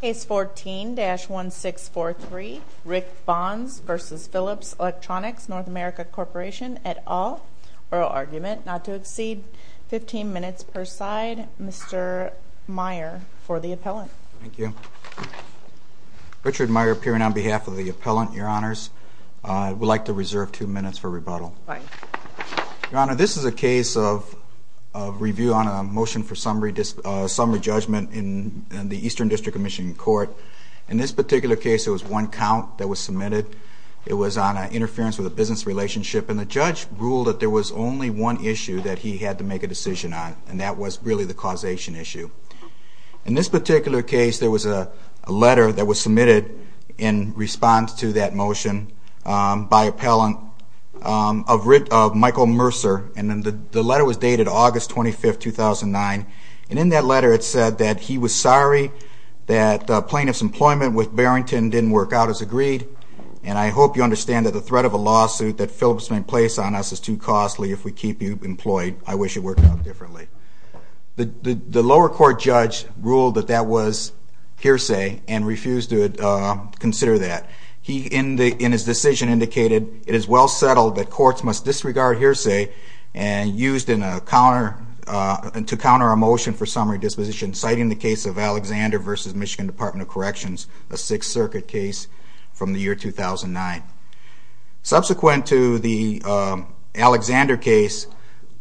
Case 14-1643. Rick Bonds v. Phillips Electronics N America Corp at all. Oral argument not to exceed 15 minutes per side. Mr. Meyer for the appellant. Thank you. Richard Meyer, appearing on behalf of the appellant. Your Honors. I would like to reserve two minutes for rebuttal. Your Honor, this is a case of review on a motion for summary judgment in the Eastern District of Michigan Court. In this particular case it was one count that was submitted. It was on interference with a business relationship and the judge ruled that there was only one issue that he had to make a decision on and that was really the causation issue. In this particular case there was a letter that was submitted in response to that motion by appellant of Michael Mercer and the letter was dated August 25, 2009 and in that letter it said that he was sorry that plaintiff's employment with Barrington didn't work out as agreed and I hope you understand that the threat of a lawsuit that Phillips may place on us is too costly if we keep you employed. I wish it worked out differently. The lower court judge ruled that that was hearsay and refused to consider that. He in his decision indicated it is well settled that courts must disregard hearsay and used to counter a motion for summary disposition citing the case of Alexander v. Michigan Department of Corrections, a Sixth Circuit case from the year 2009. Subsequent to the Alexander case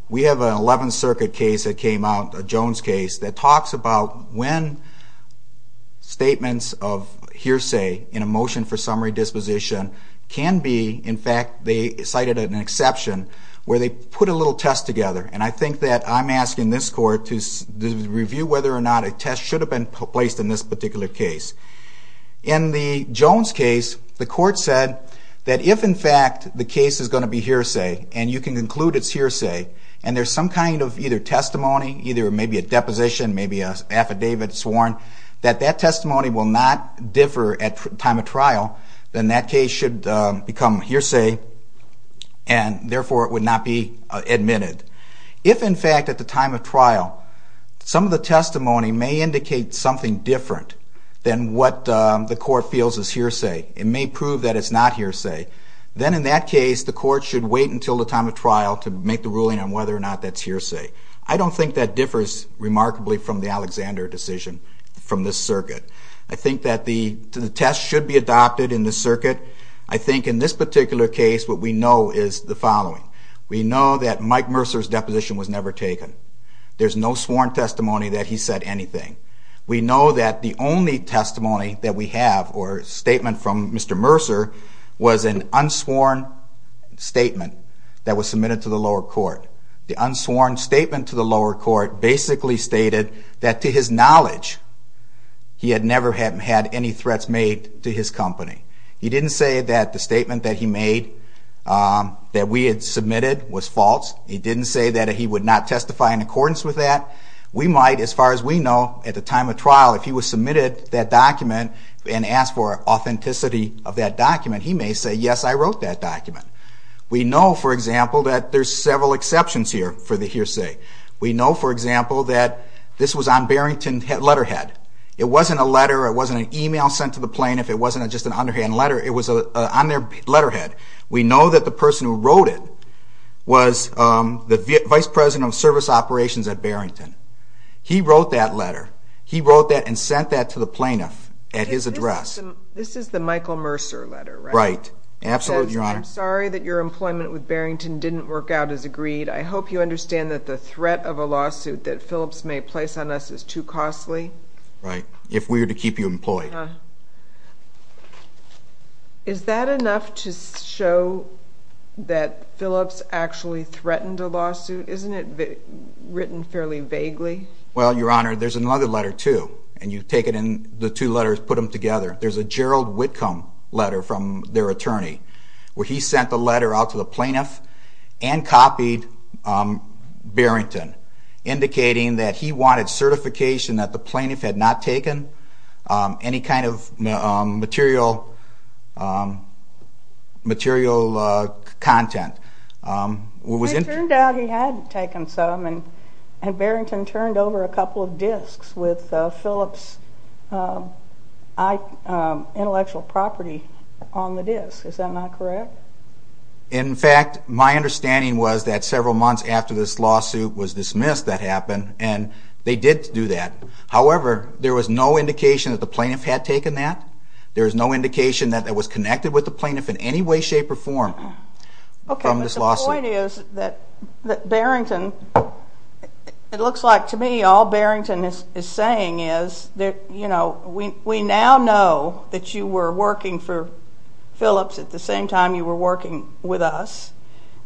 we have an Eleventh Circuit case that came out, a Jones case, that talks about when statements of hearsay in a motion for summary disposition can be, in fact they cited an exception where they put a little test together and I think that I'm asking this court to review whether or not a test should have been placed in this particular case. In the Jones case the court said that if in fact the case is going to be hearsay and you can conclude it's hearsay and there's some kind of either testimony, either maybe a deposition, maybe an affidavit sworn, that that testimony will not differ at time of trial, then that case should become hearsay and therefore it would not be admitted. If in fact at the time of trial some of the testimony may indicate something different than what the court feels is hearsay, it may prove that it's not hearsay, then in that case the court should wait until the time of trial to make the ruling on whether or not that's hearsay. I don't think that differs remarkably from the Alexander decision from this circuit. I think that the test should be adopted in this circuit. I think in this particular case what we know is the following. We know that Mike Mercer's deposition was never taken. There's no sworn testimony that he said anything. We know that the only testimony that we have or statement from Mr. Mercer was an unsworn statement that was submitted to the lower court. The unsworn statement to the lower court basically stated that to his knowledge he had never had any threats made to his company. He didn't say that the statement that he made that we had submitted was false. He didn't say that he would not testify in accordance with that. We might, as far as we know, at the time of trial, if he was submitted that document and asked for authenticity of that document, he may say, yes, I wrote that document. We know, for example, that there's several exceptions here for the hearsay. We know, for example, that this was on Barrington letterhead. It wasn't a letter. It wasn't an email sent to the plaintiff. It wasn't just an underhand letter. It was on their letterhead. We know that the person who wrote it was the vice president of service operations at Barrington. He wrote that letter. He wrote that and sent that to the plaintiff at his address. This is the Michael Mercer letter, right? Right. Absolutely, Your Honor. It says, I'm sorry that your employment with Barrington didn't work out as agreed. I hope you understand that the threat of a lawsuit that Phillips may place on us is too costly. Right. If we were to keep you employed. Uh-huh. Is that enough to show that Phillips actually threatened a lawsuit? Isn't it written fairly vaguely? Well, Your Honor, there's another letter, too, and you take it in the two letters, put them together. There's a Gerald Whitcomb letter from their attorney where he sent the letter out to the plaintiff and copied Barrington indicating that he wanted certification that the plaintiff had not taken any kind of material content. It turned out he had taken some, and Barrington turned over a couple of disks with Phillips' intellectual property on the disk. Is that not correct? In fact, my understanding was that several months after this lawsuit was dismissed that happened, and they did do that. However, there was no indication that the plaintiff had taken that. There was no indication that it was connected with the plaintiff in any way, shape, or form. Okay, but the point is that Barrington, it looks like to me all Barrington is saying is that, you know, we now know that you were working for Phillips at the same time you were working with us,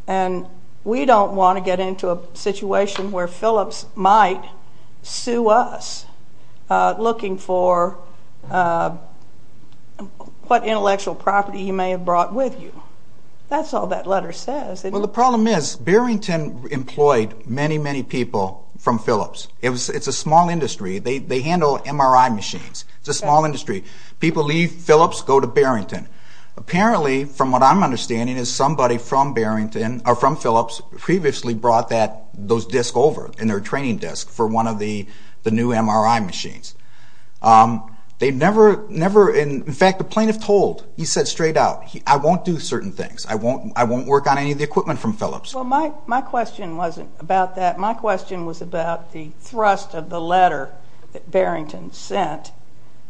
and we don't want to get into a situation where Phillips might sue us looking for what intellectual property he may have brought with you. That's all that letter says. Well, the problem is Barrington employed many, many people from Phillips. It's a small industry. They handle MRI machines. It's a small industry. People leave Phillips, go to Barrington. Apparently, from what I'm understanding, is somebody from Phillips previously brought those disks over in their training disk for one of the new MRI machines. They never, in fact, the plaintiff told, he said straight out, I won't do certain things. I won't work on any of the equipment from Phillips. Well, my question wasn't about that. My question was about the thrust of the letter that Barrington sent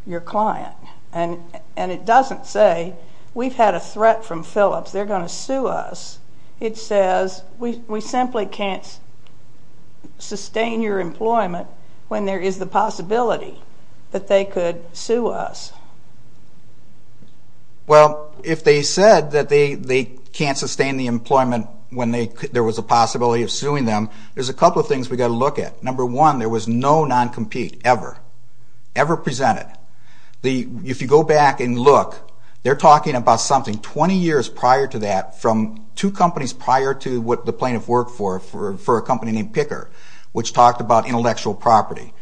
your client, and it doesn't say we've had a threat from Phillips. They're going to sue us. It says we simply can't sustain your employment when there is the possibility that they could sue us. Well, if they said that they can't sustain the employment when there was a possibility of suing them, there's a couple of things we've got to look at. Number one, there was no non-compete ever, ever presented. If you go back and look, they're talking about something 20 years prior to that from two companies prior to what the plaintiff worked for, for a company named Picker, which talked about intellectual property.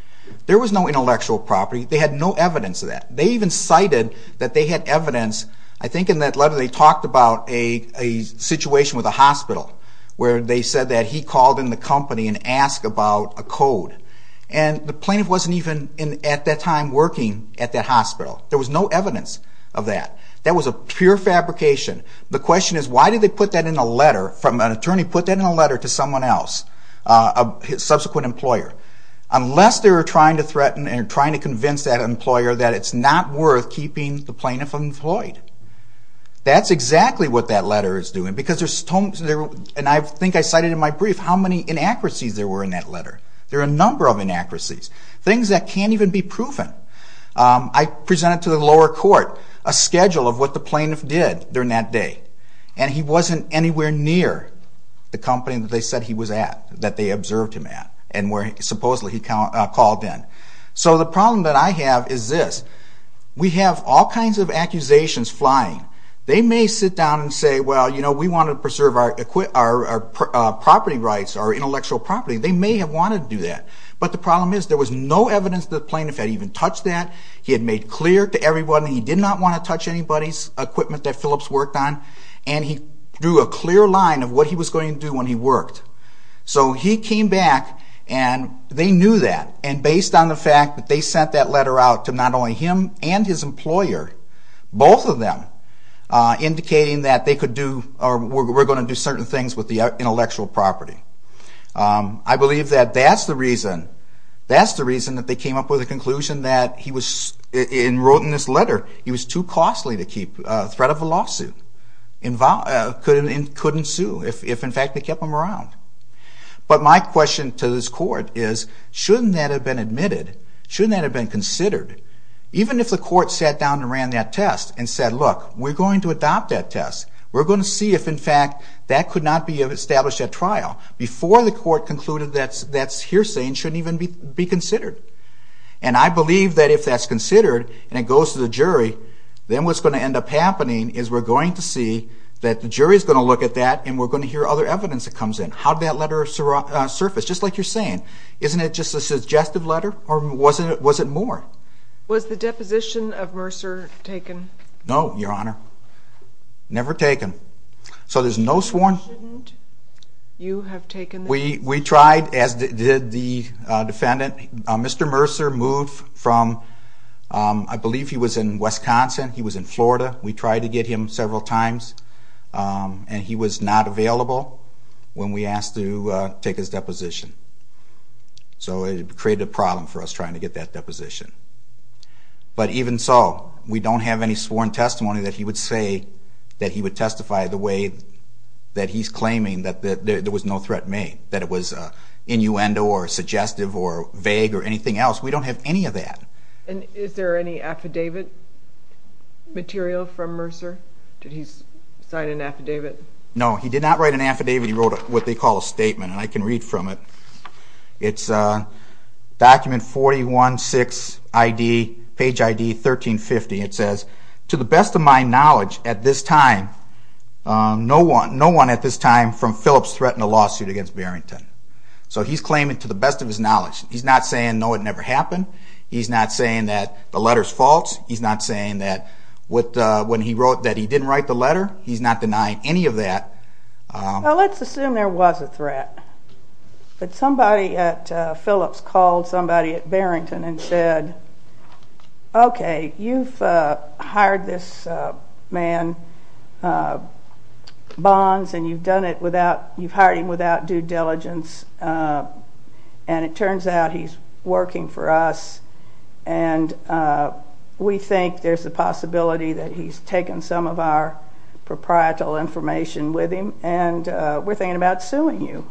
There was no intellectual property. They had no evidence of that. They even cited that they had evidence. I think in that letter they talked about a situation with a hospital where they said that he called in the company and asked about a code, and the plaintiff wasn't even at that time working at that hospital. There was no evidence of that. That was a pure fabrication. The question is why did they put that in a letter from an attorney, put that in a letter to someone else, a subsequent employer, unless they were trying to threaten and trying to convince that employer that it's not worth keeping the plaintiff employed. That's exactly what that letter is doing. I think I cited in my brief how many inaccuracies there were in that letter. There are a number of inaccuracies, things that can't even be proven. I presented to the lower court a schedule of what the plaintiff did during that day, and he wasn't anywhere near the company that they said he was at, that they observed him at, and where supposedly he called in. So the problem that I have is this. We have all kinds of accusations flying. They may sit down and say, well, we want to preserve our property rights, our intellectual property. They may have wanted to do that, but the problem is there was no evidence that the plaintiff had even touched that. He had made clear to everyone that he did not want to touch anybody's equipment that Phillips worked on, and he drew a clear line of what he was going to do when he worked. So he came back, and they knew that, and based on the fact that they sent that letter out to not only him and his employer, both of them indicating that they could do or were going to do certain things with the intellectual property. I believe that that's the reason that they came up with the conclusion that he was, in writing this letter, he was too costly to keep threat of a lawsuit and couldn't sue if, in fact, they kept him around. But my question to this court is, shouldn't that have been admitted? Shouldn't that have been considered? Even if the court sat down and ran that test and said, look, we're going to adopt that test. We're going to see if, in fact, that could not be established at trial before the court concluded that hearsay shouldn't even be considered. And I believe that if that's considered and it goes to the jury, then what's going to end up happening is we're going to see that the jury's going to look at that, and we're going to hear other evidence that comes in. How did that letter surface? Just like you're saying, isn't it just a suggestive letter, or was it more? Was the deposition of Mercer taken? No, Your Honor. Never taken. So there's no sworn... You have taken this? We tried, as did the defendant. Mr. Mercer moved from, I believe he was in Wisconsin, he was in Florida. We tried to get him several times, and he was not available when we asked to take his deposition. So it created a problem for us trying to get that deposition. But even so, we don't have any sworn testimony that he would say by the way that he's claiming that there was no threat made, that it was innuendo or suggestive or vague or anything else. We don't have any of that. And is there any affidavit material from Mercer? Did he sign an affidavit? No, he did not write an affidavit. He wrote what they call a statement, and I can read from it. It's document 416 page ID 1350. It says, to the best of my knowledge at this time, no one at this time from Phillips threatened a lawsuit against Barrington. So he's claiming to the best of his knowledge. He's not saying, no, it never happened. He's not saying that the letter's false. He's not saying that when he wrote that he didn't write the letter, he's not denying any of that. Well, let's assume there was a threat. But somebody at Phillips called somebody at Barrington and said, okay, you've hired this man, Bonds, and you've hired him without due diligence, and it turns out he's working for us, and we think there's a possibility that he's taken some of our proprietal information with him, and we're thinking about suing you.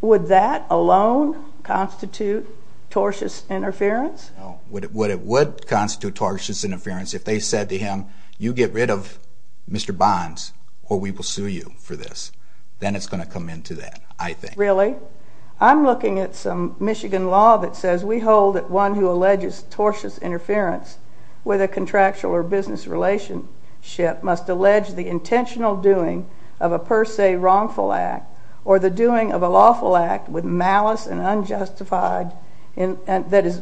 Would that alone constitute tortious interference? No. What it would constitute tortious interference, if they said to him, you get rid of Mr. Bonds or we will sue you for this, then it's going to come into that, I think. Really? I'm looking at some Michigan law that says we hold that one who alleges tortious interference with a contractual or business relationship must allege the intentional doing of a per se wrongful act or the doing of a lawful act with malice and unjustified, that is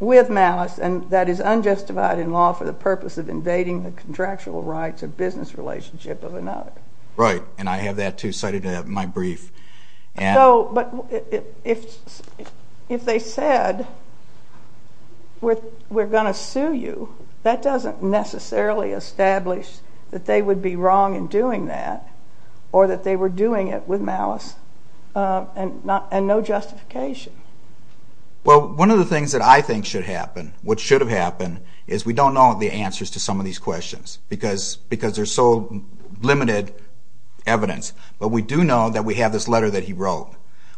with malice and that is unjustified in law for the purpose of invading the contractual rights or business relationship of another. Right, and I have that too cited in my brief. So, but if they said we're going to sue you, that doesn't necessarily establish that they would be wrong in doing that or that they were doing it with malice and no justification. Well, one of the things that I think should happen, what should have happened is we don't know the answers to some of these questions because there's so limited evidence, but we do know that we have this letter that he wrote.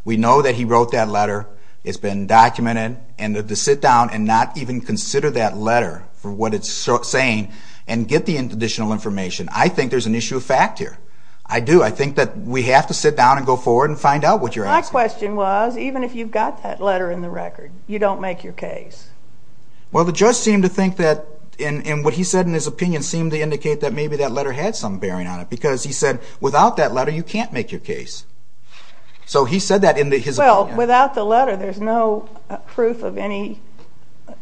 We know that he wrote that letter. It's been documented, and to sit down and not even consider that letter for what it's saying and get the additional information, I think there's an issue of fact here. I do. I think that we have to sit down and go forward and find out what you're asking. My question was, even if you've got that letter in the record, you don't make your case. Well, the judge seemed to think that and what he said in his opinion seemed to indicate that maybe that letter had some bearing on it because he said without that letter you can't make your case. So he said that in his opinion. Without the letter there's no proof of any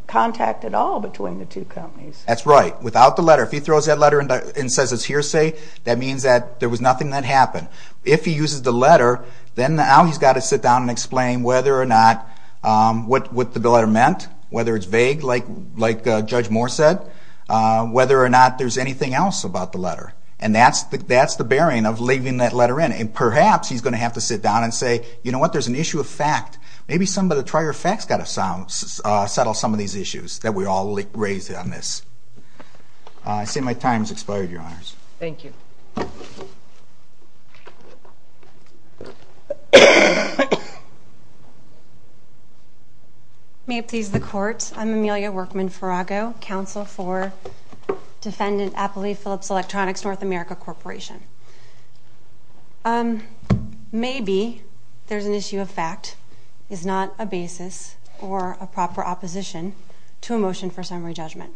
contact at all between the two companies. That's right. Without the letter, if he throws that letter and says it's hearsay, that means that there was nothing that happened. If he uses the letter, then now he's got to sit down and explain whether or not what the letter meant, whether it's vague like Judge Moore said, whether or not there's anything else about the letter. And that's the bearing of leaving that letter in. And perhaps he's going to have to sit down and say, you know what, there's an issue of fact. Maybe somebody to try your facts has got to settle some of these issues that we all raised on this. I see my time has expired, Your Honors. Thank you. May it please the Court. I'm Amelia Workman-Farago, Counsel for Defendant Appali Phillips Electronics North America Corporation. Maybe there's an issue of fact is not a basis or a proper opposition to a motion for summary judgment.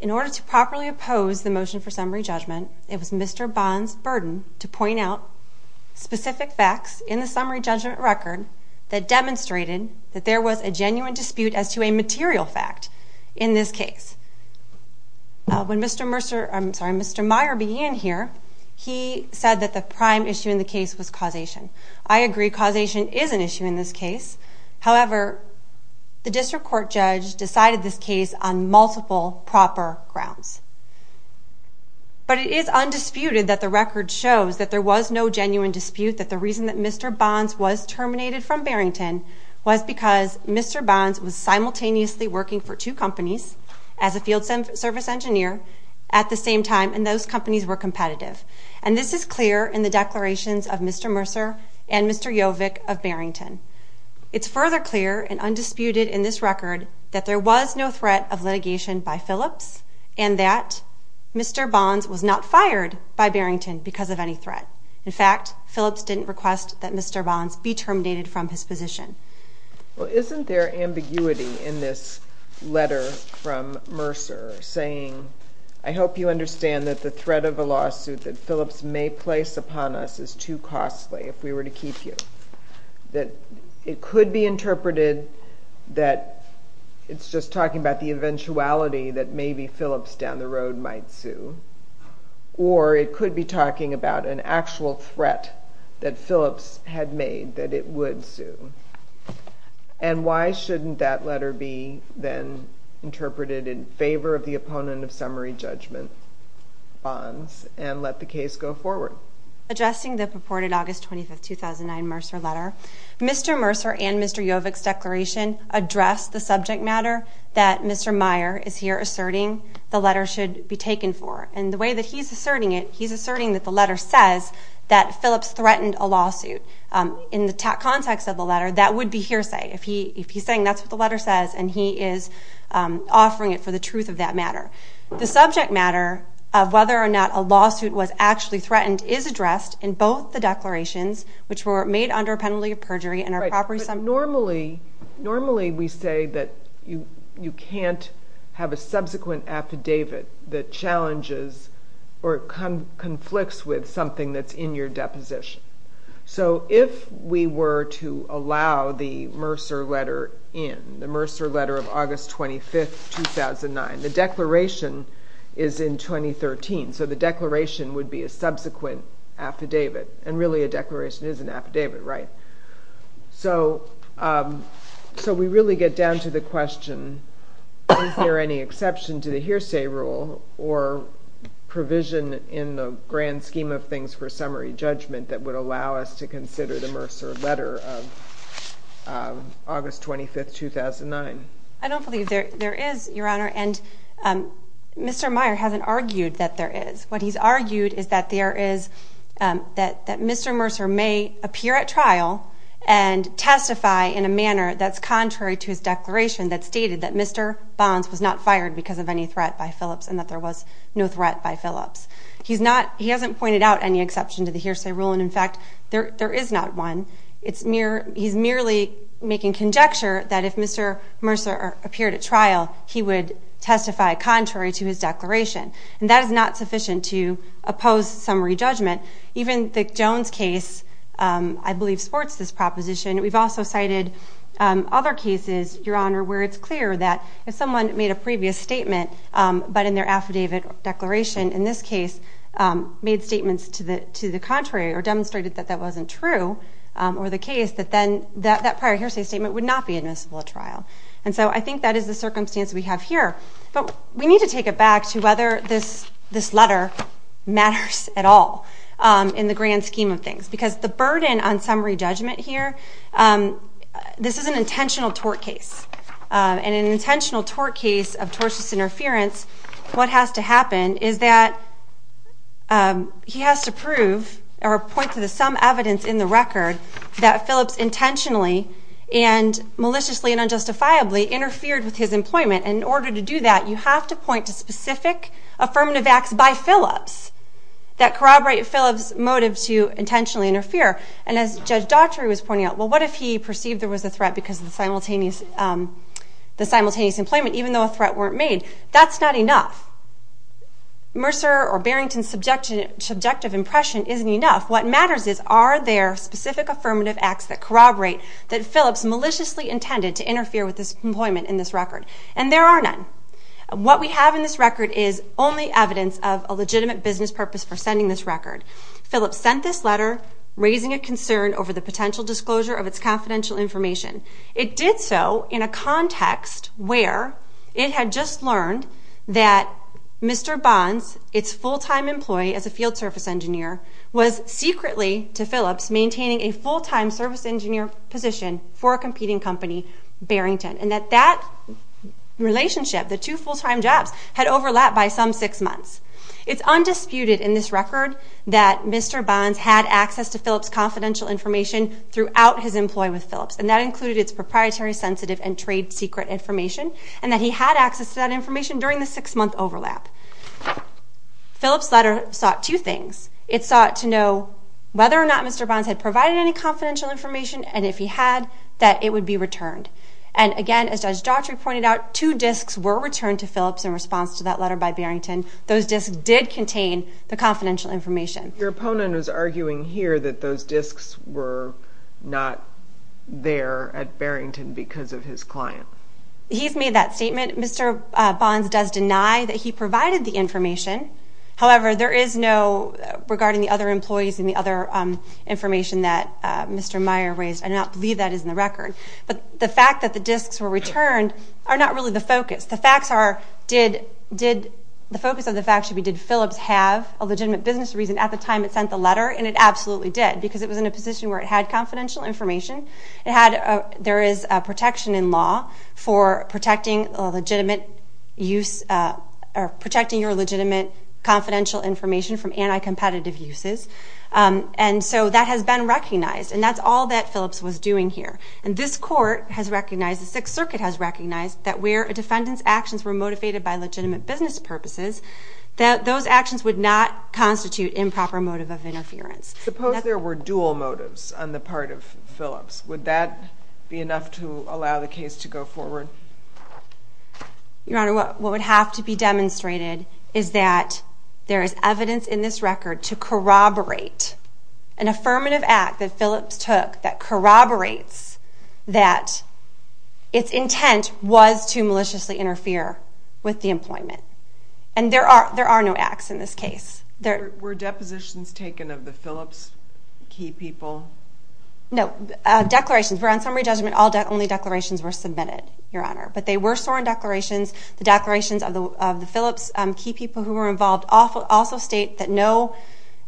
In order to properly oppose the motion for summary judgment, it was Mr. Bond's burden to point out specific facts in the summary judgment record that demonstrated that there was a genuine dispute as to a material fact in this case. When Mr. Meier began here, he said that the prime issue in the case was causation. I agree causation is an issue in this case. However, the District Court judge decided this case on multiple proper grounds. But it is undisputed that the record shows that there was no genuine dispute, that the reason that Mr. Bond's was terminated from Barrington was because Mr. Bond's was simultaneously working for two companies as a field service engineer at the same time, and those companies were competitive. And this is clear in the declarations of Mr. Mercer and Mr. Jovic of Barrington. It's further clear and undisputed in this record that there was no threat of litigation by Phillips and that Mr. Bond's was not fired by Barrington because of any threat. In fact, Phillips didn't request that Mr. Bond's be terminated from his position. Well, isn't there ambiguity in this letter from Mercer saying, I hope you understand that the threat of a lawsuit that Phillips may place upon us is too costly if we were to keep you? That it could be interpreted that it's just talking about the eventuality that maybe Phillips down the road might sue, or it could be talking about an actual threat that Phillips had made that it would sue. And why shouldn't that letter be then interpreted in favor of the opponent of summary judgment, Bond's, and let the case go forward? Addressing the purported August 25, 2009 Mercer letter, Mr. Mercer and Mr. Jovic's declaration address the subject matter that Mr. Meyer is here asserting the letter should be taken for. And the way that he's asserting it, he's asserting that the letter says that Phillips threatened a lawsuit. In the context of the letter, that would be hearsay. If he's saying that's what the letter says and he is offering it for the truth of that matter. The subject matter of whether or not a lawsuit was actually threatened is addressed in both the declarations, which were made under a penalty of perjury and are properly summed up. Normally we say that you can't have a subsequent affidavit that challenges or conflicts with something that's in your deposition. So if we were to allow the Mercer letter in, the Mercer letter of August 25, 2009, the declaration is in 2013, so the declaration would be a subsequent affidavit. And really a declaration is an affidavit, right? So we really get down to the question, is there any exception to the hearsay rule or provision in the grand scheme of things for summary judgment that would allow us to consider the Mercer letter of August 25, 2009? I don't believe there is, Your Honor, and Mr. Meyer hasn't argued that there is. What he's argued is that Mr. Mercer may appear at trial and testify in a manner that's contrary to his declaration that stated that Mr. Bonds was not fired because of any threat by Phillips and that there was no threat by Phillips. He hasn't pointed out any exception to the hearsay rule and, in fact, there is not one. He's merely making conjecture that if Mr. Mercer appeared at trial, he would testify contrary to his declaration. And that is not sufficient to oppose summary judgment. Even the Jones case, I believe, supports this proposition. We've also cited other cases, Your Honor, where it's clear that if someone made a previous statement but in their affidavit declaration, in this case, made statements to the contrary or demonstrated that that wasn't true or the case, that then that prior hearsay statement would not be admissible at trial. And so I think that is the circumstance we have here. But we need to take it back to whether this letter matters at all in the grand scheme of things because the burden on summary judgment here, this is an intentional tort case. In an intentional tort case of tortious interference, what has to happen is that he has to prove or point to some evidence in the record that Phillips intentionally and maliciously and unjustifiably interfered with his employment. And in order to do that, you have to point to specific affirmative acts by Phillips that corroborate Phillips' motive to intentionally interfere. And as Judge Daughtry was pointing out, well, what if he perceived there was a threat because of the simultaneous employment, even though a threat weren't made? That's not enough. Mercer or Barrington's subjective impression isn't enough. What matters is, are there specific affirmative acts that corroborate that Phillips maliciously intended to interfere with his employment in this record? And there are none. What we have in this record is only evidence of a legitimate business purpose for sending this record. Phillips sent this letter raising a concern over the potential disclosure of its confidential information. It did so in a context where it had just learned that Mr. Bonds, its full-time employee as a field service engineer, was secretly, to Phillips, maintaining a full-time service engineer position for a competing company, Barrington, and that that relationship, the two full-time jobs, had overlapped by some six months. It's undisputed in this record that Mr. Bonds had access to Phillips' confidential information throughout his employment with Phillips, and that included its proprietary, sensitive, and trade secret information, and that he had access to that information during the six-month overlap. Phillips' letter sought two things. It sought to know whether or not Mr. Bonds had provided any confidential information, and if he had, that it would be returned. And, again, as Judge Daughtry pointed out, two disks were returned to Phillips in response to that letter by Barrington. Those disks did contain the confidential information. Your opponent was arguing here that those disks were not there at Barrington because of his client. He's made that statement. Mr. Bonds does deny that he provided the information. However, there is no, regarding the other employees and the other information that Mr. Meyer raised, I do not believe that is in the record. But the fact that the disks were returned are not really the focus. The facts are, the focus of the facts should be, did Phillips have a legitimate business reason at the time it sent the letter, and it absolutely did because it was in a position where it had confidential information. There is protection in law for protecting legitimate use, or protecting your legitimate confidential information from anti-competitive uses. And so that has been recognized, and that's all that Phillips was doing here. And this court has recognized, the Sixth Circuit has recognized, that where a defendant's actions were motivated by legitimate business purposes, that those actions would not constitute improper motive of interference. Suppose there were dual motives on the part of Phillips. Would that be enough to allow the case to go forward? Your Honor, what would have to be demonstrated is that there is evidence in this record to corroborate an affirmative act that Phillips took that corroborates that its intent was to maliciously interfere with the employment. And there are no acts in this case. Were depositions taken of the Phillips key people? No. Declarations. On summary judgment, only declarations were submitted, Your Honor. But they were sworn declarations. The declarations of the Phillips key people who were involved also state that no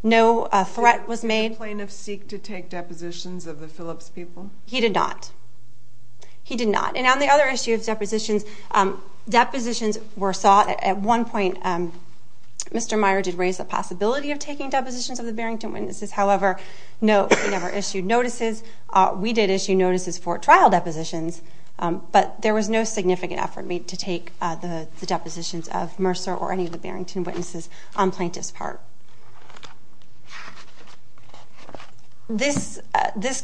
threat was made. Did the plaintiff seek to take depositions of the Phillips people? He did not. And on the other issue of depositions, depositions were sought. At one point, Mr. Meyer did raise the possibility of taking depositions of the Barrington witnesses. However, no, he never issued notices. We did issue notices for trial depositions, but there was no significant effort made to take the depositions of Mercer or any of the Barrington witnesses on plaintiff's part. This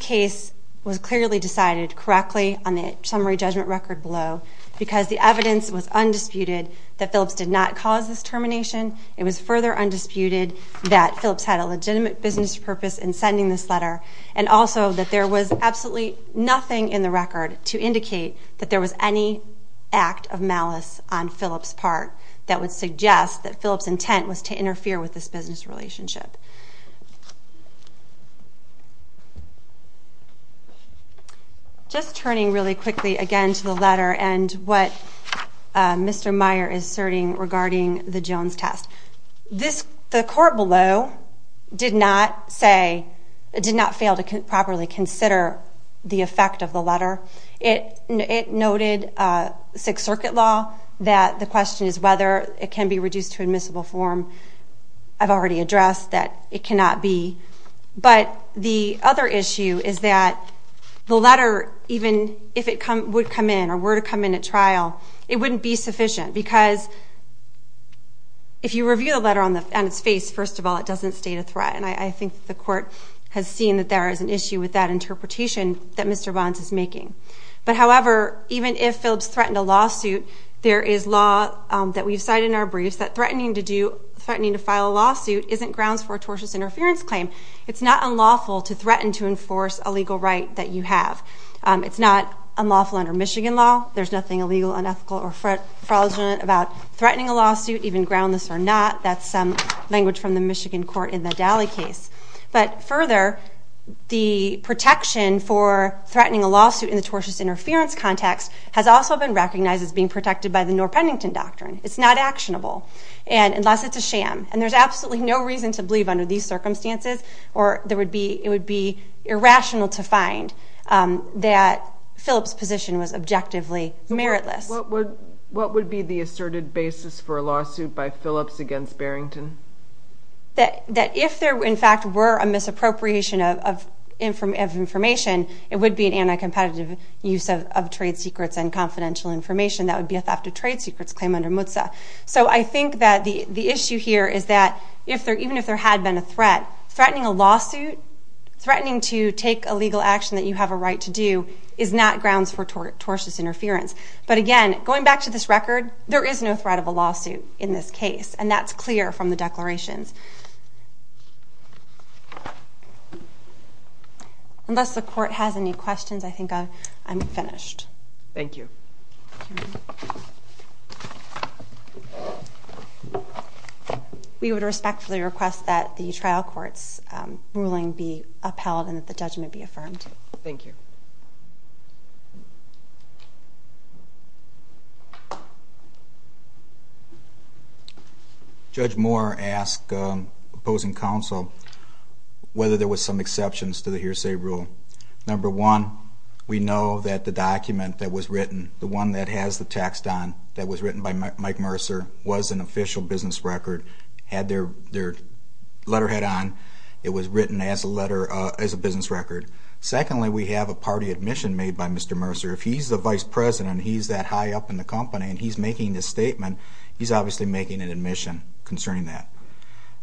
case was clearly decided correctly on the summary judgment record below because the evidence was undisputed that Phillips did not cause this termination. It was further undisputed that Phillips had a legitimate business purpose in sending this letter and also that there was absolutely nothing in the record to indicate that there was any act of malice on Phillips' part that would suggest that Phillips' intent was to interfere with this business relationship. Just turning really quickly again to the letter and what Mr. Meyer is asserting regarding the Jones test. The court below did not fail to properly consider the effect of the letter. It noted Sixth Circuit law that the question is whether it can be reduced to admissible form. I've already addressed that it cannot be. But the other issue is that the letter, even if it would come in or were to come in at trial, it wouldn't be sufficient because if you review the letter on its face, first of all, it doesn't state a threat. And I think the court has seen that there is an issue with that interpretation that Mr. Bonds is making. There is law that we've cited in our briefs that threatening to file a lawsuit isn't grounds for a tortious interference claim. It's not unlawful to threaten to enforce a legal right that you have. It's not unlawful under Michigan law. There's nothing illegal, unethical, or fraudulent about threatening a lawsuit, even groundless or not. That's some language from the Michigan court in the Dally case. But further, the protection for threatening a lawsuit in the tortious interference context has also been recognized as being protected by the Norr-Pennington Doctrine. It's not actionable unless it's a sham. And there's absolutely no reason to believe under these circumstances or it would be irrational to find that Phillips' position was objectively meritless. What would be the asserted basis for a lawsuit by Phillips against Barrington? That if there, in fact, were a misappropriation of information, it would be an anti-competitive use of trade secrets and confidential information. That would be a theft of trade secrets claim under MUTSA. So I think that the issue here is that even if there had been a threat, threatening a lawsuit, threatening to take a legal action that you have a right to do, is not grounds for tortious interference. But again, going back to this record, there is no threat of a lawsuit in this case. And that's clear from the declarations. Unless the court has any questions, I think I'm finished. Thank you. We would respectfully request that the trial court's ruling be upheld and that the judgment be affirmed. Thank you. Judge Moore asked opposing counsel whether there were some exceptions to the hearsay rule. Number one, we know that the document that was written, the one that has the text on, that was written by Mike Mercer, was an official business record, had their letterhead on. It was written as a business record. Secondly, we have a party admission made by Mr. Mercer. If he's the vice president and he's that high up in the company and he's making this statement, he's obviously making an admission concerning that.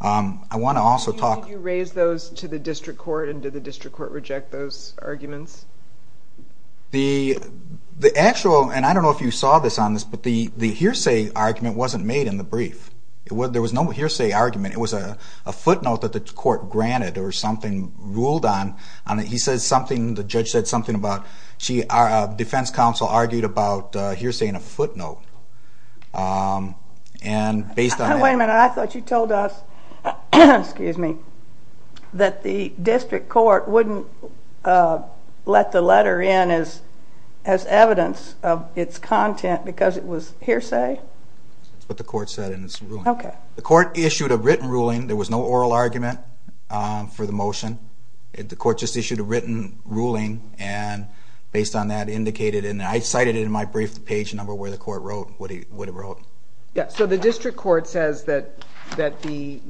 Did you raise those to the district court and did the district court reject those arguments? The actual, and I don't know if you saw this on this, but the hearsay argument wasn't made in the brief. There was no hearsay argument. It was a footnote that the court granted or something ruled on. He said something, the judge said something about, defense counsel argued about hearsaying a footnote. Wait a minute, I thought you told us that the district court wouldn't let the letter in as evidence of its content because it was hearsay? That's what the court said in its ruling. Okay. The court issued a written ruling. There was no oral argument for the motion. The court just issued a written ruling and based on that indicated, and I cited it in my brief, the page number where the court wrote what it wrote. Yeah, so the district court says that the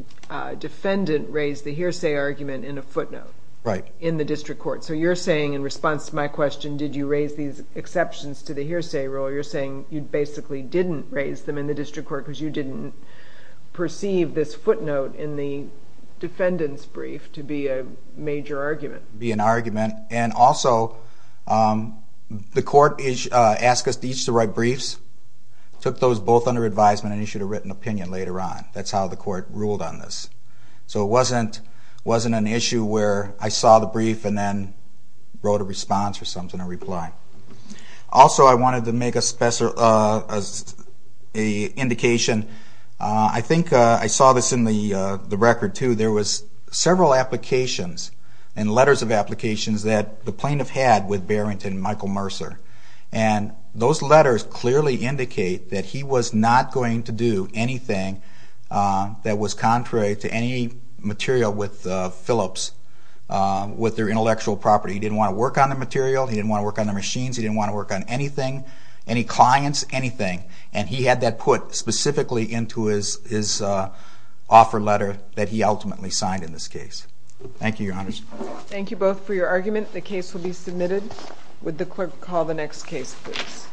defendant raised the hearsay argument in a footnote. Right. In the district court. So you're saying in response to my question, did you raise these exceptions to the hearsay rule, you're saying you basically didn't raise them in the district court because you didn't perceive this footnote in the defendant's brief to be a major argument. Be an argument. And also the court asked us each to write briefs, took those both under advisement and issued a written opinion later on. That's how the court ruled on this. So it wasn't an issue where I saw the brief and then wrote a response or something, a reply. Also I wanted to make an indication. I think I saw this in the record too. There was several applications and letters of applications that the plaintiff had with Barrington and Michael Mercer. And those letters clearly indicate that he was not going to do anything that was contrary to any material with Phillips with their intellectual property. He didn't want to work on the material. He didn't want to work on the machines. He didn't want to work on anything, any clients, anything. And he had that put specifically into his offer letter that he ultimately signed in this case. Thank you, Your Honor. Thank you both for your argument. The case will be submitted. Would the clerk call the next case, please?